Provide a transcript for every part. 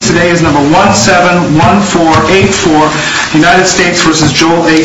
Today is number 171484 United States v. Joel A. Sabean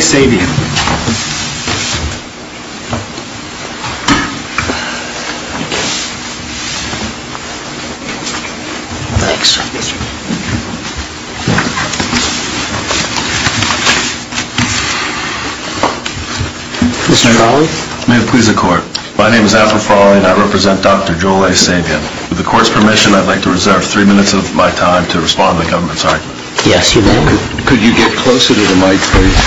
Mr. Frawley May it please the court My name is Alfred Frawley and I represent Dr. Joel A. Sabean With the court's permission, I'd like to reserve three minutes of my time to respond to the government's argument Yes, you're welcome Could you get closer to the mic, please?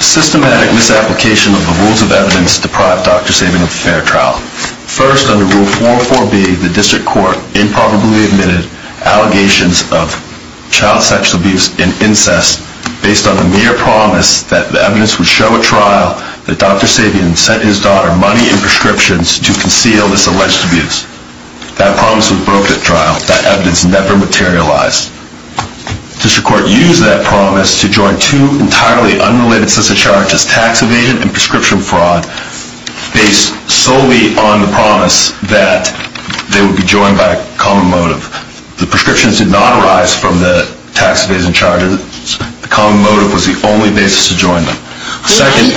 Systematic misapplication of the rules of evidence deprived Dr. Sabean of a fair trial First, under Rule 404B, the District Court improbably admitted allegations of child sexual abuse and incest based on the mere promise that the evidence would show at trial that Dr. Sabean sent his daughter money and prescriptions to conceal this alleged abuse. That promise was broke at trial. That evidence never materialized. The District Court used that promise to join two entirely unrelated sets of charges, tax evasion and prescription fraud based solely on the promise that they would be joined by a common motive. The prescriptions did not arise from the tax evasion charges. The common motive was the only basis to join them.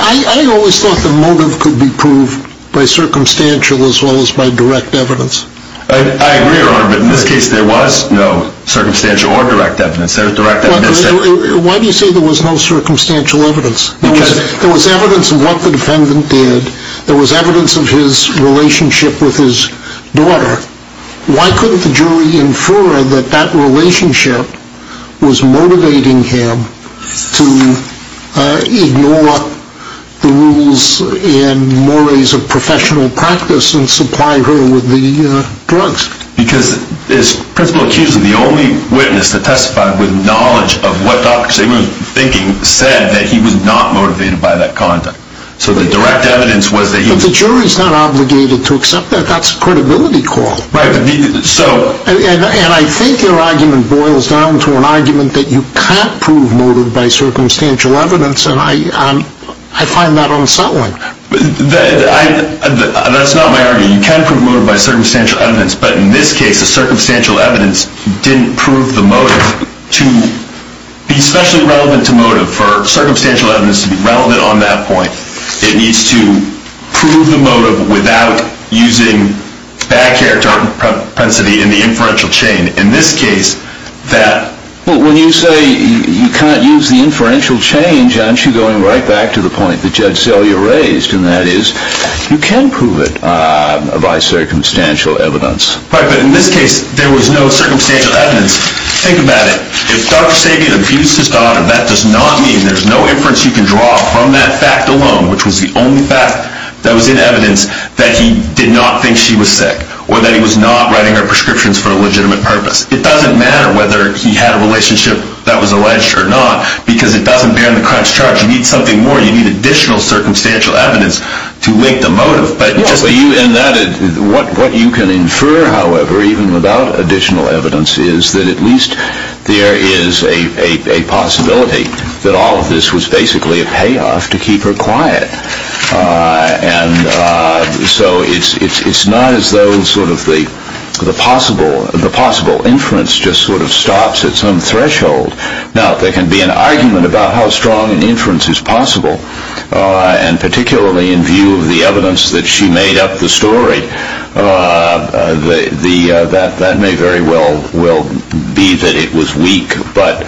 I always thought the motive could be proved by circumstantial as well as by direct evidence. I agree, Your Honor, but in this case there was no circumstantial or direct evidence. Why do you say there was no circumstantial evidence? Because There was evidence of what the defendant did. There was evidence of his relationship with his daughter. Why couldn't the jury infer that that relationship was motivating him to ignore the rules and mores of professional practice and supply her with the drugs? Because as principal accuser, the only witness that testified with knowledge of what Dr. Sabean was thinking said that he was not motivated by that conduct. So the direct evidence was that he was The jury is not obligated to accept that. That's a credibility call. And I think your argument boils down to an argument that you can't prove motive by circumstantial evidence and I find that unsettling. That's not my argument. You can prove motive by circumstantial evidence, but in this case the circumstantial evidence didn't prove the motive. To be specially relevant to motive, for circumstantial evidence to be relevant on that point, it needs to prove the motive without using bad character or propensity in the inferential chain. In this case, that But when you say you can't use the inferential chain, John, aren't you going right back to the point that Judge Selya raised? And that is, you can prove it by circumstantial evidence. Right, but in this case, there was no circumstantial evidence. Think about it. If Dr. Sabean abused his daughter, that does not mean there's no inference you can draw from that fact alone, which was the only fact that was in evidence that he did not think she was sick, or that he was not writing her prescriptions for a legitimate purpose. It doesn't matter whether he had a relationship that was alleged or not, because it doesn't bear on the crime's charge. You need something more. You need additional circumstantial evidence to link the motive. What you can infer, however, even without additional evidence, is that at least there is a possibility that all of this was basically a payoff to keep her quiet. And so it's not as though the possible inference just sort of stops at some threshold. Now, there can be an argument about how strong an inference is possible, and particularly in view of the evidence that she made up the story. That may very well be that it was weak, but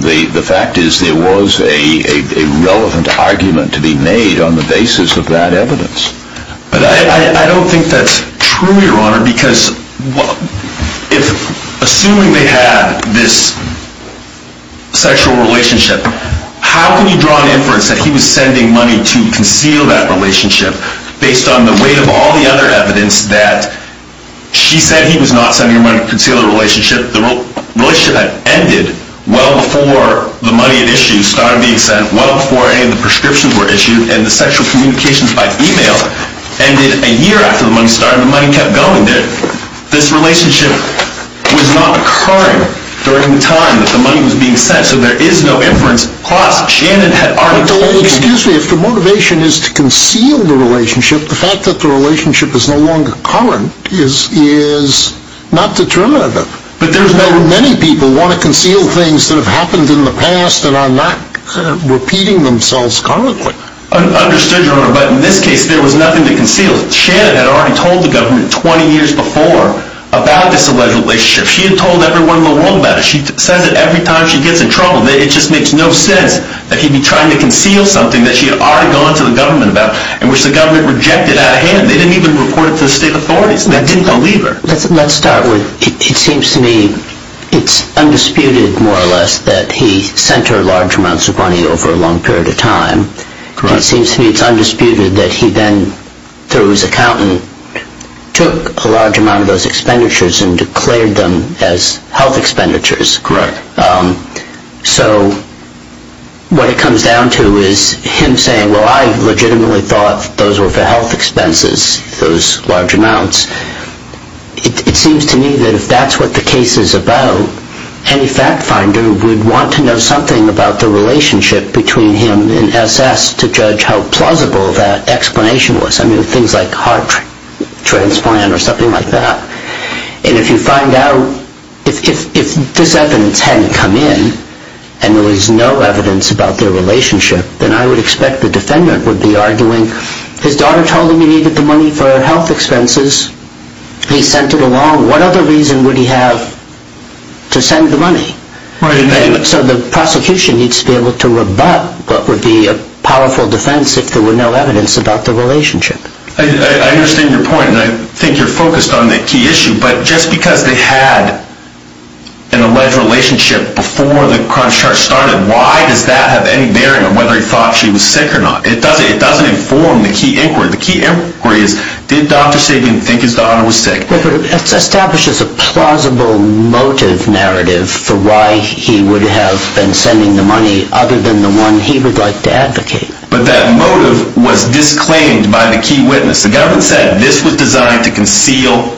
the fact is there was a relevant argument to be made on the basis of that evidence. But I don't think that's true, Your Honor, because assuming they had this sexual relationship, how can you draw an inference that he was sending money to conceal that relationship based on the weight of all the other evidence that she said he was not sending her money to conceal the relationship? The relationship had ended well before the money it issued started being sent, well before any of the prescriptions were issued, and the sexual communications by email ended a year after the money started, and the money kept going. This relationship was not occurring during the time that the money was being sent, so there is no inference. Excuse me, if the motivation is to conceal the relationship, the fact that the relationship is no longer current is not determinative. Many people want to conceal things that have happened in the past and are not repeating themselves currently. Understood, Your Honor, but in this case there was nothing to conceal. Shannon had already told the government 20 years before about this alleged relationship. She had told everyone in the world about it. She says it every time she gets in trouble. It just makes no sense that he'd be trying to conceal something that she had already gone to the government about and which the government rejected out of hand. They didn't even report it to the state authorities. They didn't believe her. Let's start with it seems to me it's undisputed more or less that he sent her large amounts of money over a long period of time. It seems to me it's undisputed that he then, through his accountant, took a large amount of those expenditures and declared them as health expenditures. Correct. So what it comes down to is him saying, well, I legitimately thought those were for health expenses, those large amounts. It seems to me that if that's what the case is about, any fact finder would want to know something about the relationship between him and S.S. to judge how plausible that explanation was. I mean, things like heart transplant or something like that. And if you find out, if this evidence hadn't come in and there was no evidence about their relationship, then I would expect the defendant would be arguing his daughter told him he needed the money for health expenses. He sent it along. What other reason would he have to send the money? So the prosecution needs to be able to rebut what would be a powerful defense if there were no evidence about the relationship. I understand your point, and I think you're focused on the key issue. But just because they had an alleged relationship before the charge started, why does that have any bearing on whether he thought she was sick or not? It doesn't inform the key inquiry. The key inquiry is, did Dr. Sabin think his daughter was sick? It establishes a plausible motive narrative for why he would have been sending the money other than the one he would like to advocate. But that motive was disclaimed by the key witness. The government said this was designed to conceal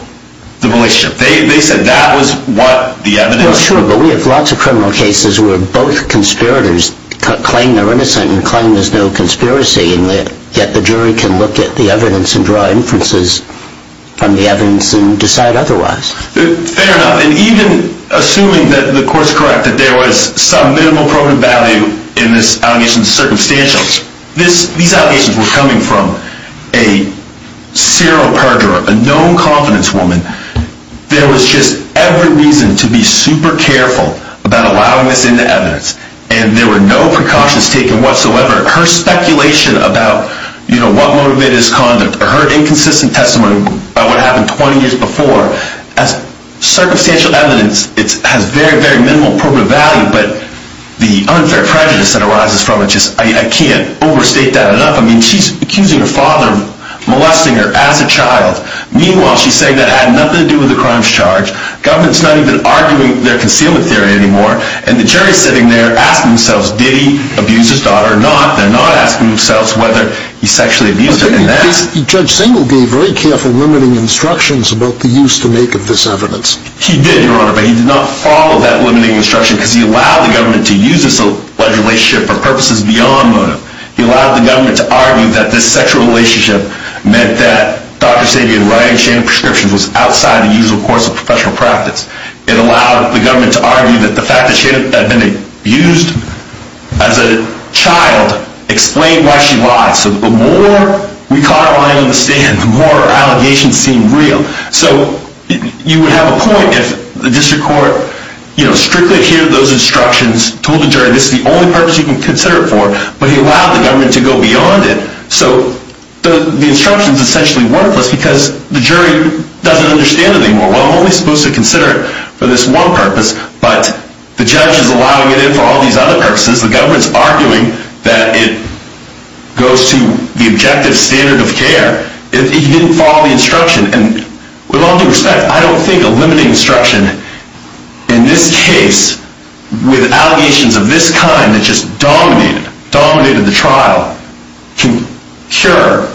the relationship. They said that was what the evidence was. Well, sure, but we have lots of criminal cases where both conspirators claim they're innocent and claim there's no conspiracy, and yet the jury can look at the evidence and draw inferences from the evidence and decide otherwise. Fair enough. And even assuming that the court's correct, that there was some minimal proven value in this allegation's circumstantial, These allegations were coming from a serial perjurer, a known confidence woman. There was just every reason to be super careful about allowing this into evidence, and there were no precautions taken whatsoever. Her speculation about what motivated his conduct or her inconsistent testimony about what happened 20 years before, as circumstantial evidence, it has very, very minimal proven value. The unfair prejudice that arises from it, I can't overstate that enough. She's accusing her father of molesting her as a child. Meanwhile, she's saying that had nothing to do with the crimes charged. Government's not even arguing their concealment theory anymore, and the jury's sitting there asking themselves, did he abuse his daughter or not? They're not asking themselves whether he sexually abused her. Judge Singel gave very careful, limiting instructions about the use to make of this evidence. He did, Your Honor, but he did not follow that limiting instruction, because he allowed the government to use this alleged relationship for purposes beyond motive. He allowed the government to argue that this sexual relationship meant that Dr. Sabian writing Shannon's prescriptions was outside the usual course of professional practice. It allowed the government to argue that the fact that Shannon had been abused as a child explained why she lied. So the more we caught her lying on the stand, the more her allegations seemed real. So you would have a point if the district court strictly adhered to those instructions, told the jury this is the only purpose you can consider it for, but he allowed the government to go beyond it. So the instruction's essentially worthless because the jury doesn't understand anymore. Well, I'm only supposed to consider it for this one purpose, but the judge is allowing it in for all these other purposes. The government's arguing that it goes to the objective standard of care. He didn't follow the instruction, and with all due respect, I don't think a limiting instruction in this case with allegations of this kind that just dominated the trial can cure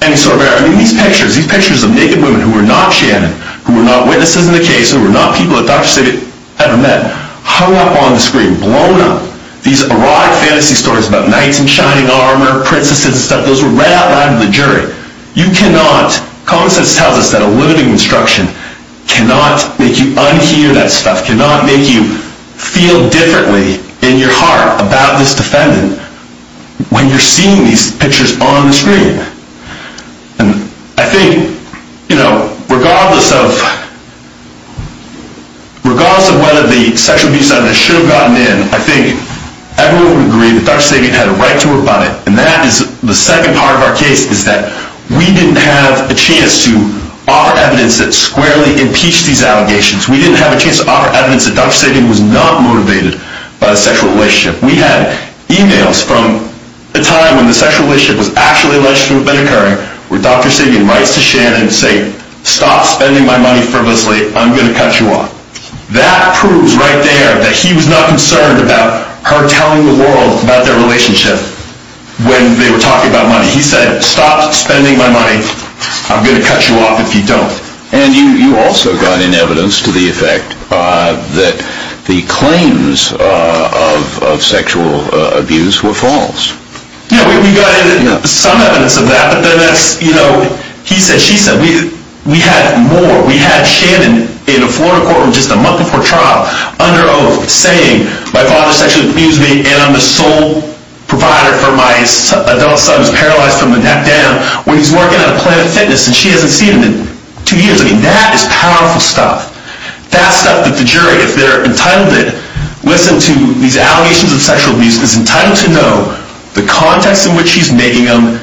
any sort of error. I mean, these pictures, these pictures of naked women who were not Shannon, who were not witnesses in the case, who were not people that Dr. Sabian had ever met, hung up on the screen, blown up. These erotic fantasy stories about knights in shining armor, princesses and stuff, those were right out loud to the jury. You cannot, common sense tells us that a limiting instruction cannot make you unhear that stuff, cannot make you feel differently in your heart about this defendant when you're seeing these pictures on the screen. And I think, you know, regardless of whether the sexual abuse center should have gotten in, I think everyone would agree that Dr. Sabian had a right to report it, and that is the second part of our case is that we didn't have a chance to offer evidence that squarely impeached these allegations. We didn't have a chance to offer evidence that Dr. Sabian was not motivated by the sexual relationship. We had emails from a time when the sexual relationship was actually alleged to have been occurring where Dr. Sabian writes to Shannon saying, stop spending my money frivolously, I'm going to cut you off. That proves right there that he was not concerned about her telling the world about their relationship. When they were talking about money, he said, stop spending my money, I'm going to cut you off if you don't. And you also got in evidence to the effect that the claims of sexual abuse were false. Yeah, we got some evidence of that, but then that's, you know, he said, she said. We had more. We had Shannon in a Florida court just a month before trial under oath saying, my father sexually abused me and I'm the sole provider for my adult son who's paralyzed from the neck down when he's working on a plan of fitness and she hasn't seen him in two years. I mean, that is powerful stuff. That stuff that the jury, if they're entitled to listen to these allegations of sexual abuse, is entitled to know the context in which she's making them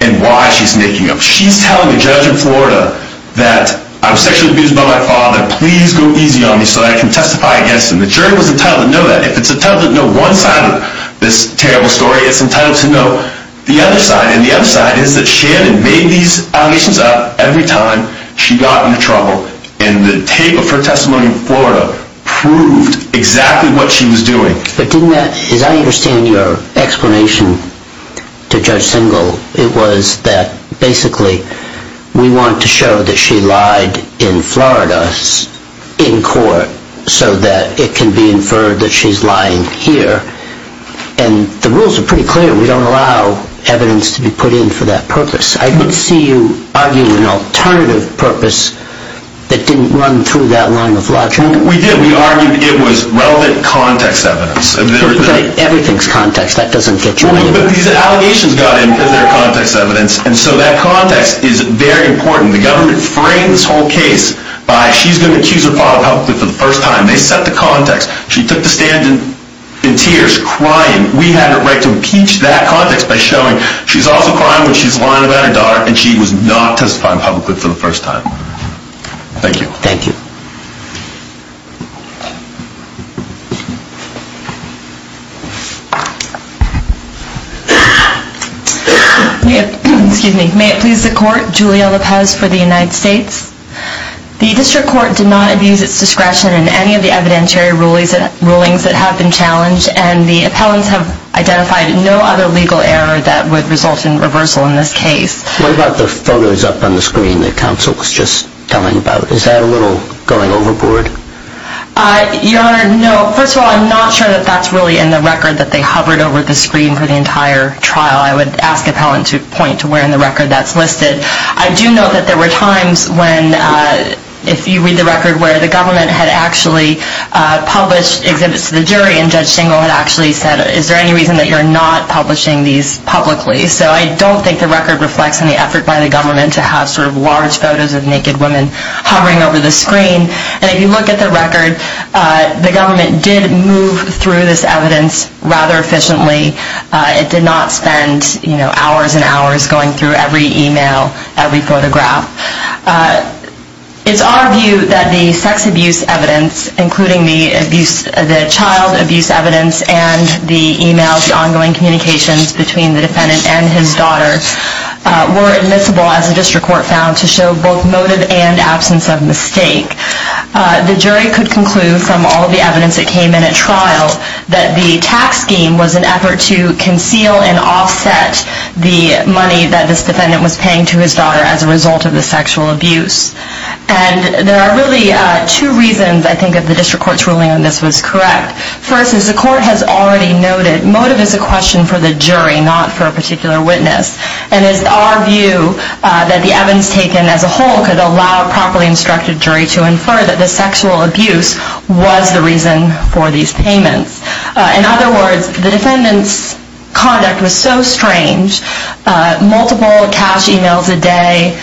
and why she's making them. She's telling a judge in Florida that I'm sexually abused by my father. Please go easy on me so that I can testify against him. And the jury was entitled to know that. If it's entitled to know one side of this terrible story, it's entitled to know the other side. And the other side is that Shannon made these allegations up every time she got into trouble and the tape of her testimony in Florida proved exactly what she was doing. But didn't that, as I understand your explanation to Judge Singal, it was that basically we want to show that she lied in Florida in court so that it can be inferred that she's lying here. And the rules are pretty clear. We don't allow evidence to be put in for that purpose. I didn't see you arguing an alternative purpose that didn't run through that line of logic. We did. We argued it was relevant context evidence. Everything's context. That doesn't get you anywhere. But these allegations got in for their context evidence. And so that context is very important. The government framed this whole case by she's going to accuse her father publicly for the first time. They set the context. She took the stand in tears, crying. We had a right to impeach that context by showing she's also crying when she's lying about her daughter and she was not testifying publicly for the first time. Thank you. Thank you. Excuse me. May it please the court. Julia Lopez for the United States. The district court did not abuse its discretion in any of the evidentiary rulings that have been challenged and the appellants have identified no other legal error that would result in reversal in this case. What about the photos up on the screen that counsel was just telling about? Is that a little going overboard? Your Honor, no. First of all, I'm not sure that that's really in the record that they hovered over the screen for the entire trial. I would ask the appellant to point to where in the record that's listed. I do know that there were times when, if you read the record, where the government had actually published exhibits to the jury and Judge Singel had actually said, is there any reason that you're not publishing these publicly? So I don't think the record reflects any effort by the government to have sort of large photos of naked women hovering over the screen. And if you look at the record, the government did move through this evidence rather efficiently. It did not spend hours and hours going through every e-mail, every photograph. It's our view that the sex abuse evidence, including the child abuse evidence and the e-mails, the ongoing communications between the defendant and his daughter, were admissible, as the district court found, to show both motive and absence of mistake. The jury could conclude from all the evidence that came in at trial that the tax scheme was an effort to conceal and offset the money that this defendant was paying to his daughter as a result of the sexual abuse. And there are really two reasons, I think, that the district court's ruling on this was correct. First, as the court has already noted, motive is a question for the jury, not for a particular witness. And it's our view that the evidence taken as a whole could allow a properly instructed jury to infer that the sexual abuse was the reason for these payments. In other words, the defendant's conduct was so strange, multiple cash e-mails a day,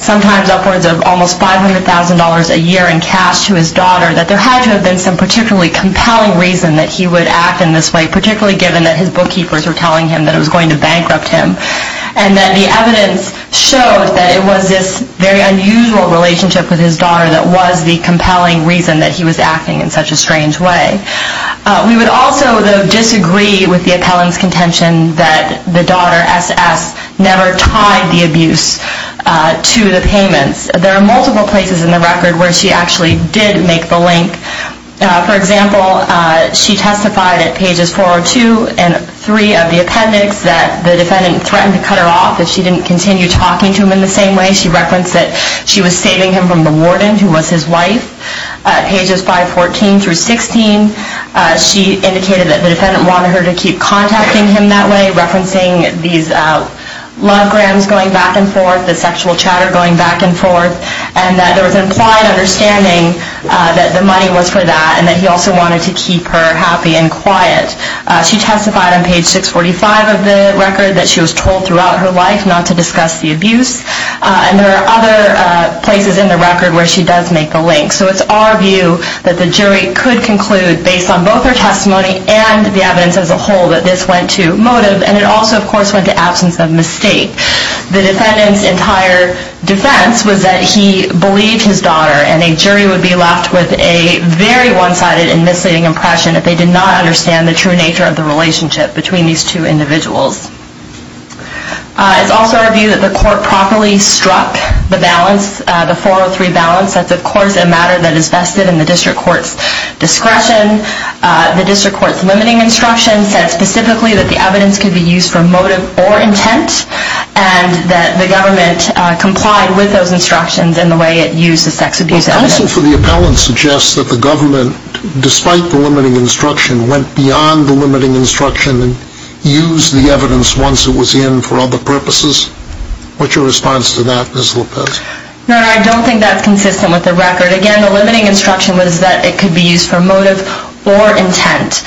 sometimes upwards of almost $500,000 a year in cash to his daughter, that there had to have been some particularly compelling reason that he would act in this way, particularly given that his bookkeepers were telling him that it was going to bankrupt him, and that the evidence showed that it was this very unusual relationship with his daughter that was the compelling reason that he was acting in such a strange way. We would also, though, disagree with the appellant's contention that the daughter, S.S., never tied the abuse to the payments. There are multiple places in the record where she actually did make the link. For example, she testified at pages 402 and 3 of the appendix that the defendant threatened to cut her off if she didn't continue talking to him in the same way. She referenced that she was saving him from the warden, who was his wife. At pages 514 through 16, she indicated that the defendant wanted her to keep contacting him that way, referencing these lovegrams going back and forth, the sexual chatter going back and forth, and that there was an implied understanding that the money was for that, and that he also wanted to keep her happy and quiet. She testified on page 645 of the record that she was told throughout her life not to discuss the abuse, and there are other places in the record where she does make the link. So it's our view that the jury could conclude, based on both her testimony and the evidence as a whole, that this went to motive, and it also, of course, went to absence of mistake. The defendant's entire defense was that he believed his daughter, and a jury would be left with a very one-sided and misleading impression that they did not understand the true nature of the relationship between these two individuals. It's also our view that the court properly struck the balance, the 403 balance. That's, of course, a matter that is vested in the district court's discretion. The district court's limiting instruction said specifically that the evidence could be used for motive or intent, and that the government complied with those instructions in the way it used the sex abuse evidence. Counsel for the appellant suggests that the government, despite the limiting instruction, went beyond the limiting instruction and used the evidence once it was in for other purposes. What's your response to that, Ms. Lopez? No, no, I don't think that's consistent with the record. Again, the limiting instruction was that it could be used for motive or intent.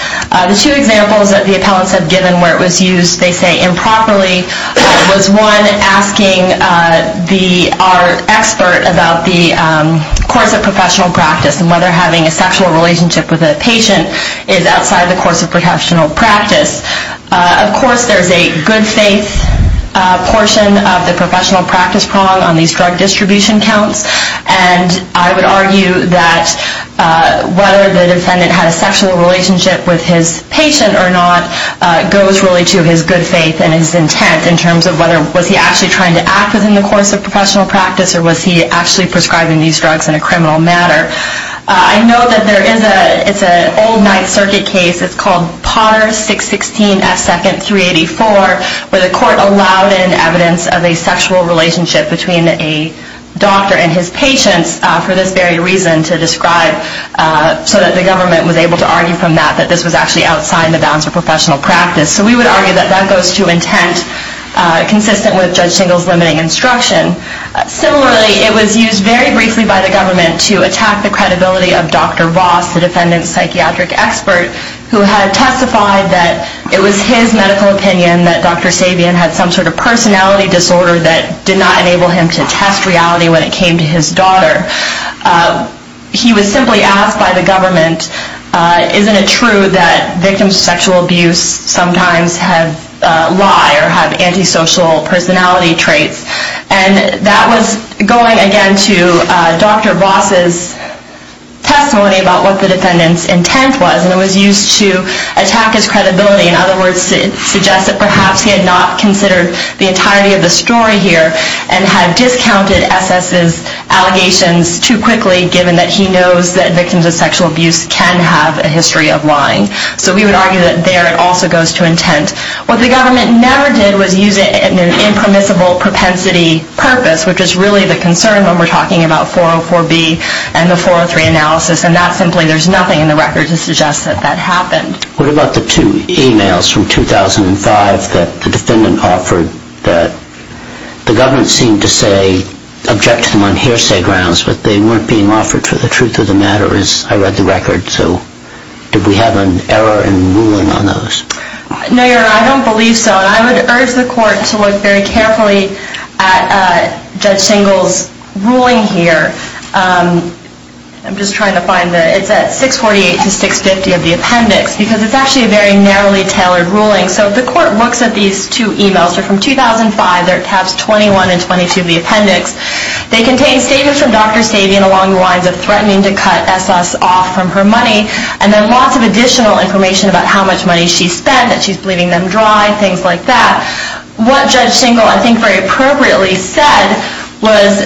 The two examples that the appellants have given where it was used, they say, improperly was one asking our expert about the course of professional practice and whether having a sexual relationship with a patient is outside the course of professional practice. Of course, there's a good faith portion of the professional practice prong on these drug distribution counts, and I would argue that whether the defendant had a sexual relationship with his patient or not goes really to his good faith and his intent in terms of whether, was he actually trying to act within the course of professional practice or was he actually prescribing these drugs in a criminal matter. I know that there is a, it's an old Ninth Circuit case, it's called Potter 616F2nd 384, where the court allowed in evidence of a sexual relationship between a doctor and his patients for this very reason to describe, so that the government was able to argue from that that this was actually outside the bounds of professional practice. So we would argue that that goes to intent consistent with Judge Singal's limiting instruction. Similarly, it was used very briefly by the government to attack the credibility of Dr. Voss, the defendant's psychiatric expert, who had testified that it was his medical opinion that Dr. Sabian had some sort of personality disorder that did not enable him to test reality when it came to his daughter. He was simply asked by the government, isn't it true that victims of sexual abuse sometimes have, lie or have antisocial personality traits, and that was going again to Dr. Voss's testimony about what the defendant's intent was, and it was used to attack his credibility. In other words, it suggests that perhaps he had not considered the entirety of the story here and had discounted SS's allegations too quickly, given that he knows that victims of sexual abuse can have a history of lying. So we would argue that there it also goes to intent. What the government never did was use it in an impermissible propensity purpose, which is really the concern when we're talking about 404B and the 403 analysis, and that simply there's nothing in the record to suggest that that happened. What about the two e-mails from 2005 that the defendant offered that the government seemed to say object to them on hearsay grounds, but they weren't being offered for the truth of the matter, as I read the record, so did we have an error in ruling on those? No, Your Honor, I don't believe so. I would urge the court to look very carefully at Judge Singal's ruling here. I'm just trying to find it. It's at 648 to 650 of the appendix, because it's actually a very narrowly tailored ruling. So the court looks at these two e-mails. They're from 2005. They're tabs 21 and 22 of the appendix. They contain statements from Dr. Savian along the lines of threatening to cut SS off from her money and then lots of additional information about how much money she spent, that she's bleeding them dry, things like that. What Judge Singal, I think very appropriately, said was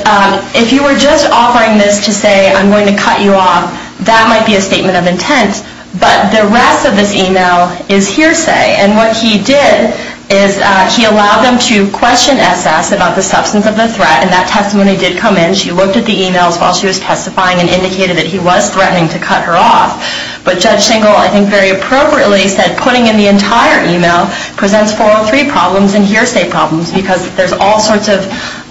if you were just offering this to say I'm going to cut you off, that might be a statement of intent, but the rest of this e-mail is hearsay. And what he did is he allowed them to question SS about the substance of the threat, and that testimony did come in. She looked at the e-mails while she was testifying and indicated that he was threatening to cut her off. But Judge Singal, I think very appropriately, said putting in the entire e-mail presents 403 problems and hearsay problems because there's all sorts of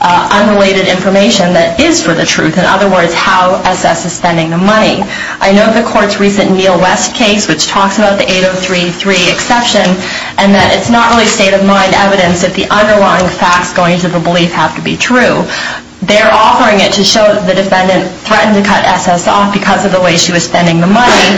unrelated information that is for the truth. In other words, how SS is spending the money. I know the court's recent Neil West case, which talks about the 8033 exception, and that it's not really state-of-mind evidence that the underlying facts going into the belief have to be true. They're offering it to show that the defendant threatened to cut SS off because of the way she was spending the money.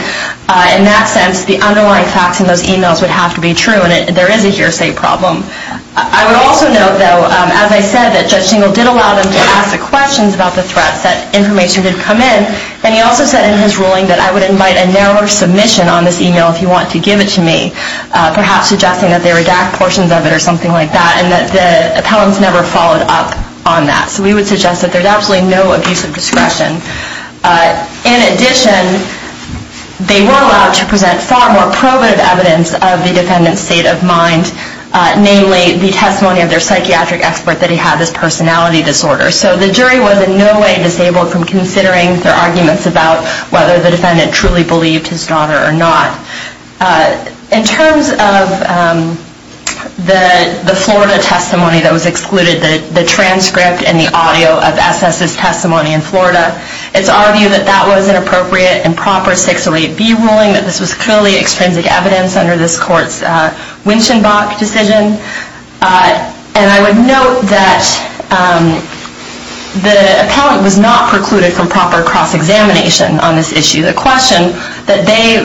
In that sense, the underlying facts in those e-mails would have to be true, and there is a hearsay problem. I would also note, though, as I said, that Judge Singal did allow them to ask the questions about the threats, that information did come in. And he also said in his ruling that I would invite a narrower submission on this e-mail if you want to give it to me, perhaps suggesting that they redact portions of it or something like that, and that the appellants never followed up on that. So we would suggest that there's absolutely no abuse of discretion. In addition, they were allowed to present far more probative evidence of the defendant's state of mind, namely the testimony of their psychiatric expert that he had this personality disorder. So the jury was in no way disabled from considering their arguments about whether the defendant truly believed his daughter or not. In terms of the Florida testimony that was excluded, the transcript and the audio of SS's testimony in Florida, it's our view that that was an appropriate and proper 608B ruling, that this was clearly extrinsic evidence under this court's Winschenbach decision. And I would note that the appellant was not precluded from proper cross-examination on this issue. The question that they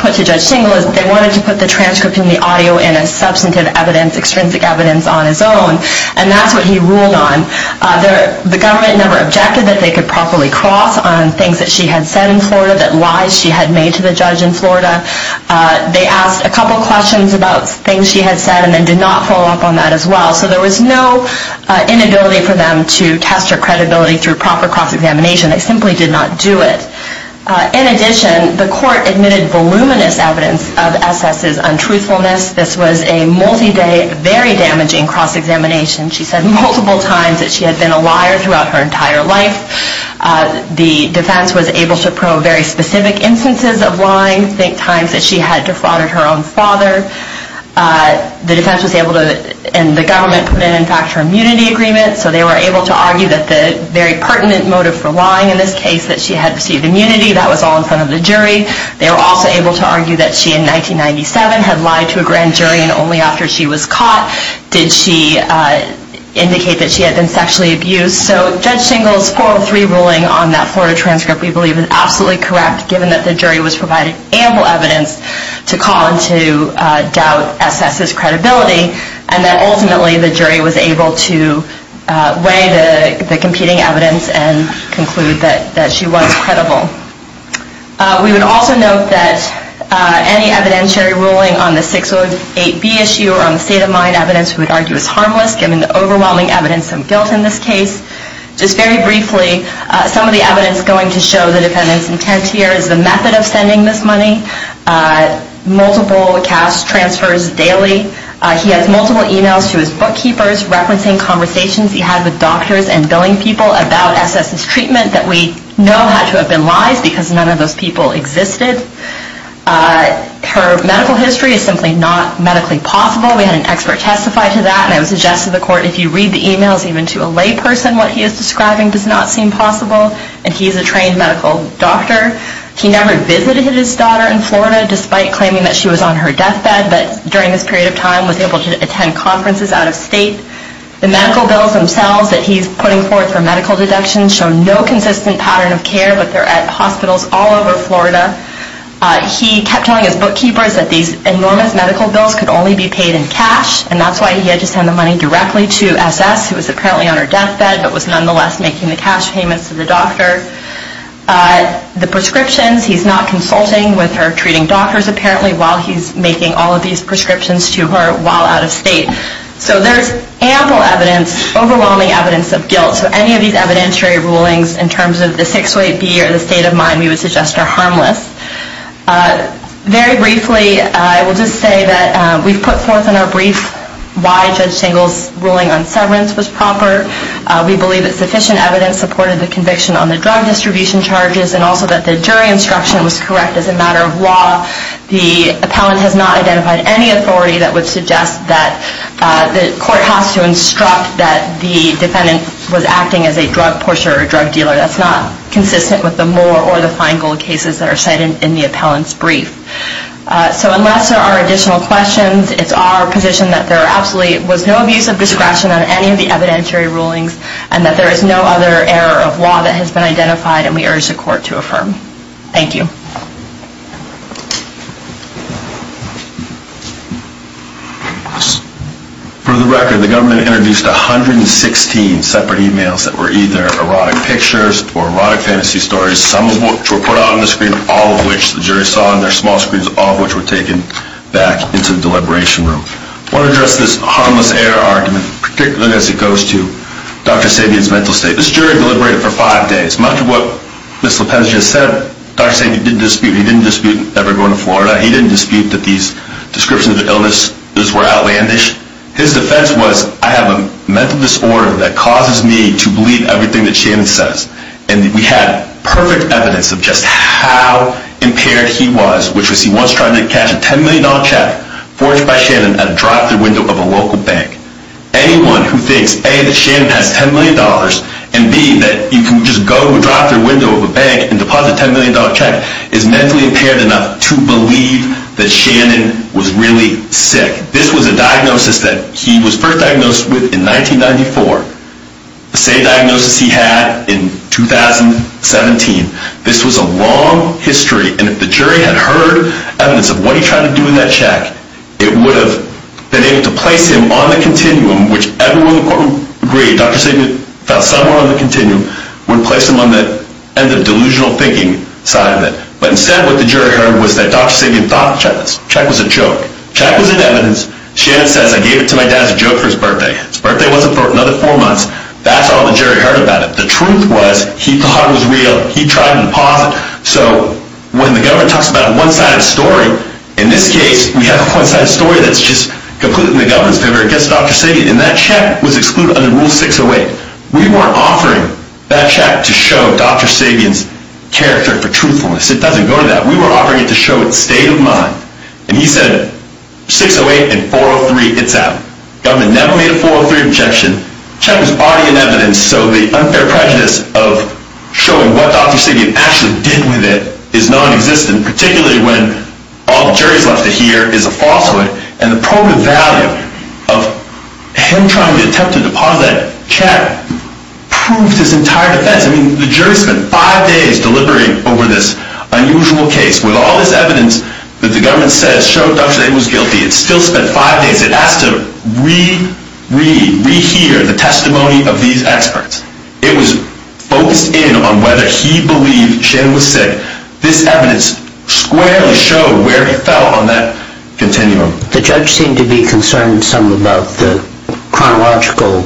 put to Judge Singal is they wanted to put the transcript and the audio in as substantive evidence, extrinsic evidence on his own, and that's what he ruled on. The government never objected that they could properly cross on things that she had said in Florida, that lies she had made to the judge in Florida. They asked a couple questions about things she had said and then did not follow up on that as well. So there was no inability for them to test her credibility through proper cross-examination. They simply did not do it. In addition, the court admitted voluminous evidence of SS's untruthfulness. This was a multi-day, very damaging cross-examination. She said multiple times that she had been a liar throughout her entire life. The defense was able to probe very specific instances of lying, think times that she had defrauded her own father. The defense was able to, and the government, put in, in fact, her immunity agreement. So they were able to argue that the very pertinent motive for lying in this case, that she had received immunity, that was all in front of the jury. They were also able to argue that she, in 1997, had lied to a grand jury and only after she was caught did she indicate that she had been sexually abused. So Judge Singal's 403 ruling on that Florida transcript, we believe, is absolutely correct, given that the jury was provided ample evidence to call into doubt SS's credibility and that ultimately the jury was able to weigh the competing evidence and conclude that she was credible. We would also note that any evidentiary ruling on the 608B issue or on the state-of-mind evidence we would argue is harmless, given the overwhelming evidence of guilt in this case. Just very briefly, some of the evidence going to show the defendant's intent here is the method of sending this money, multiple cash transfers daily. He has multiple emails to his bookkeepers referencing conversations he had with doctors and billing people about SS's treatment that we know had to have been lies, because none of those people existed. Her medical history is simply not medically possible. We had an expert testify to that, and I would suggest to the court, if you read the emails even to a layperson, what he is describing does not seem possible. And he is a trained medical doctor. He never visited his daughter in Florida, despite claiming that she was on her deathbed, but during this period of time was able to attend conferences out of state. The medical bills themselves that he is putting forward for medical deductions show no consistent pattern of care, but they are at hospitals all over Florida. He kept telling his bookkeepers that these enormous medical bills could only be paid in cash, and that is why he had to send the money directly to SS, who was apparently on her deathbed, but was nonetheless making the cash payments to the doctor. The prescriptions, he is not consulting with her treating doctors, apparently, while he is making all of these prescriptions to her while out of state. So there is ample evidence, overwhelming evidence of guilt. So any of these evidentiary rulings, in terms of the six-way B or the state of mind, we would suggest are harmless. Very briefly, I will just say that we have put forth in our brief why Judge Singal's ruling on severance was proper. We believe that sufficient evidence supported the conviction on the drug distribution charges, The appellant has not identified any authority that would suggest that the court has to instruct that the defendant was acting as a drug pusher or drug dealer. That is not consistent with the Moore or the Feingold cases that are cited in the appellant's brief. So unless there are additional questions, it is our position that there was no abuse of discretion on any of the evidentiary rulings, and that there is no other error of law that has been identified, and we urge the court to affirm. Thank you. For the record, the government introduced 116 separate emails that were either erotic pictures or erotic fantasy stories, some of which were put on the screen, all of which the jury saw on their small screens, all of which were taken back into the deliberation room. I want to address this harmless error argument, particularly as it goes to Dr. Sabian's mental state. This jury deliberated for five days. Much of what Ms. Lopez just said, Dr. Sabian didn't dispute ever going to Florida. He didn't dispute that these descriptions of illness were outlandish. His defense was, I have a mental disorder that causes me to believe everything that Shannon says. And we had perfect evidence of just how impaired he was, which was he once tried to cash a $10 million check forged by Shannon at a drive-thru window of a local bank. Anyone who thinks, A, that Shannon has $10 million, and B, that you can just go to a drive-thru window of a bank and deposit a $10 million check, is mentally impaired enough to believe that Shannon was really sick. This was a diagnosis that he was first diagnosed with in 1994, the same diagnosis he had in 2017. This was a long history, and if the jury had heard evidence of what he tried to do with that check, it would have been able to place him on the continuum, which everyone in the courtroom agreed Dr. Sabian felt somewhere on the continuum, would place him on the end of delusional thinking side of it. But instead, what the jury heard was that Dr. Sabian thought the check was a joke. The check was in evidence. Shannon says, I gave it to my dad as a joke for his birthday. His birthday wasn't for another four months. That's all the jury heard about it. The truth was, he thought it was real. He tried to deposit. So when the government talks about a one-sided story, in this case, we have a one-sided story that's just completely in the government's favor against Dr. Sabian. And that check was excluded under Rule 608. We weren't offering that check to show Dr. Sabian's character for truthfulness. It doesn't go to that. We were offering it to show its state of mind. And he said, 608 and 403, it's out. Government never made a 403 objection. Check was already in evidence. And so the unfair prejudice of showing what Dr. Sabian actually did with it is nonexistent, particularly when all the jury's left to hear is a falsehood. And the probative value of him trying to attempt to deposit that check proved his entire defense. I mean, the jury spent five days deliberating over this unusual case. With all this evidence that the government says showed Dr. Sabian was guilty, it still spent five days. It has to re-read, re-hear the testimony of these experts. It was focused in on whether he believed Shannon was sick. This evidence squarely showed where he fell on that continuum. The judge seemed to be concerned some about the chronological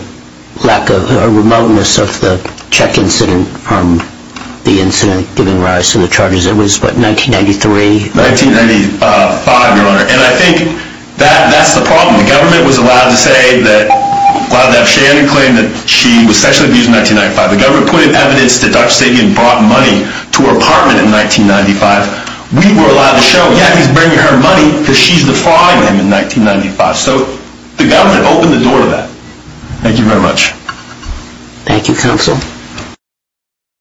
lack of, or remoteness of the check incident from the incident giving rise to the charges. It was, what, 1993? 1995, Your Honor. And I think that's the problem. The government was allowed to say that, allowed to have Shannon claim that she was sexually abused in 1995. The government put in evidence that Dr. Sabian brought money to her apartment in 1995. We were allowed to show, yeah, he's bringing her money because she's defrauding him in 1995. So the government opened the door to that. Thank you very much. Thank you, Counsel.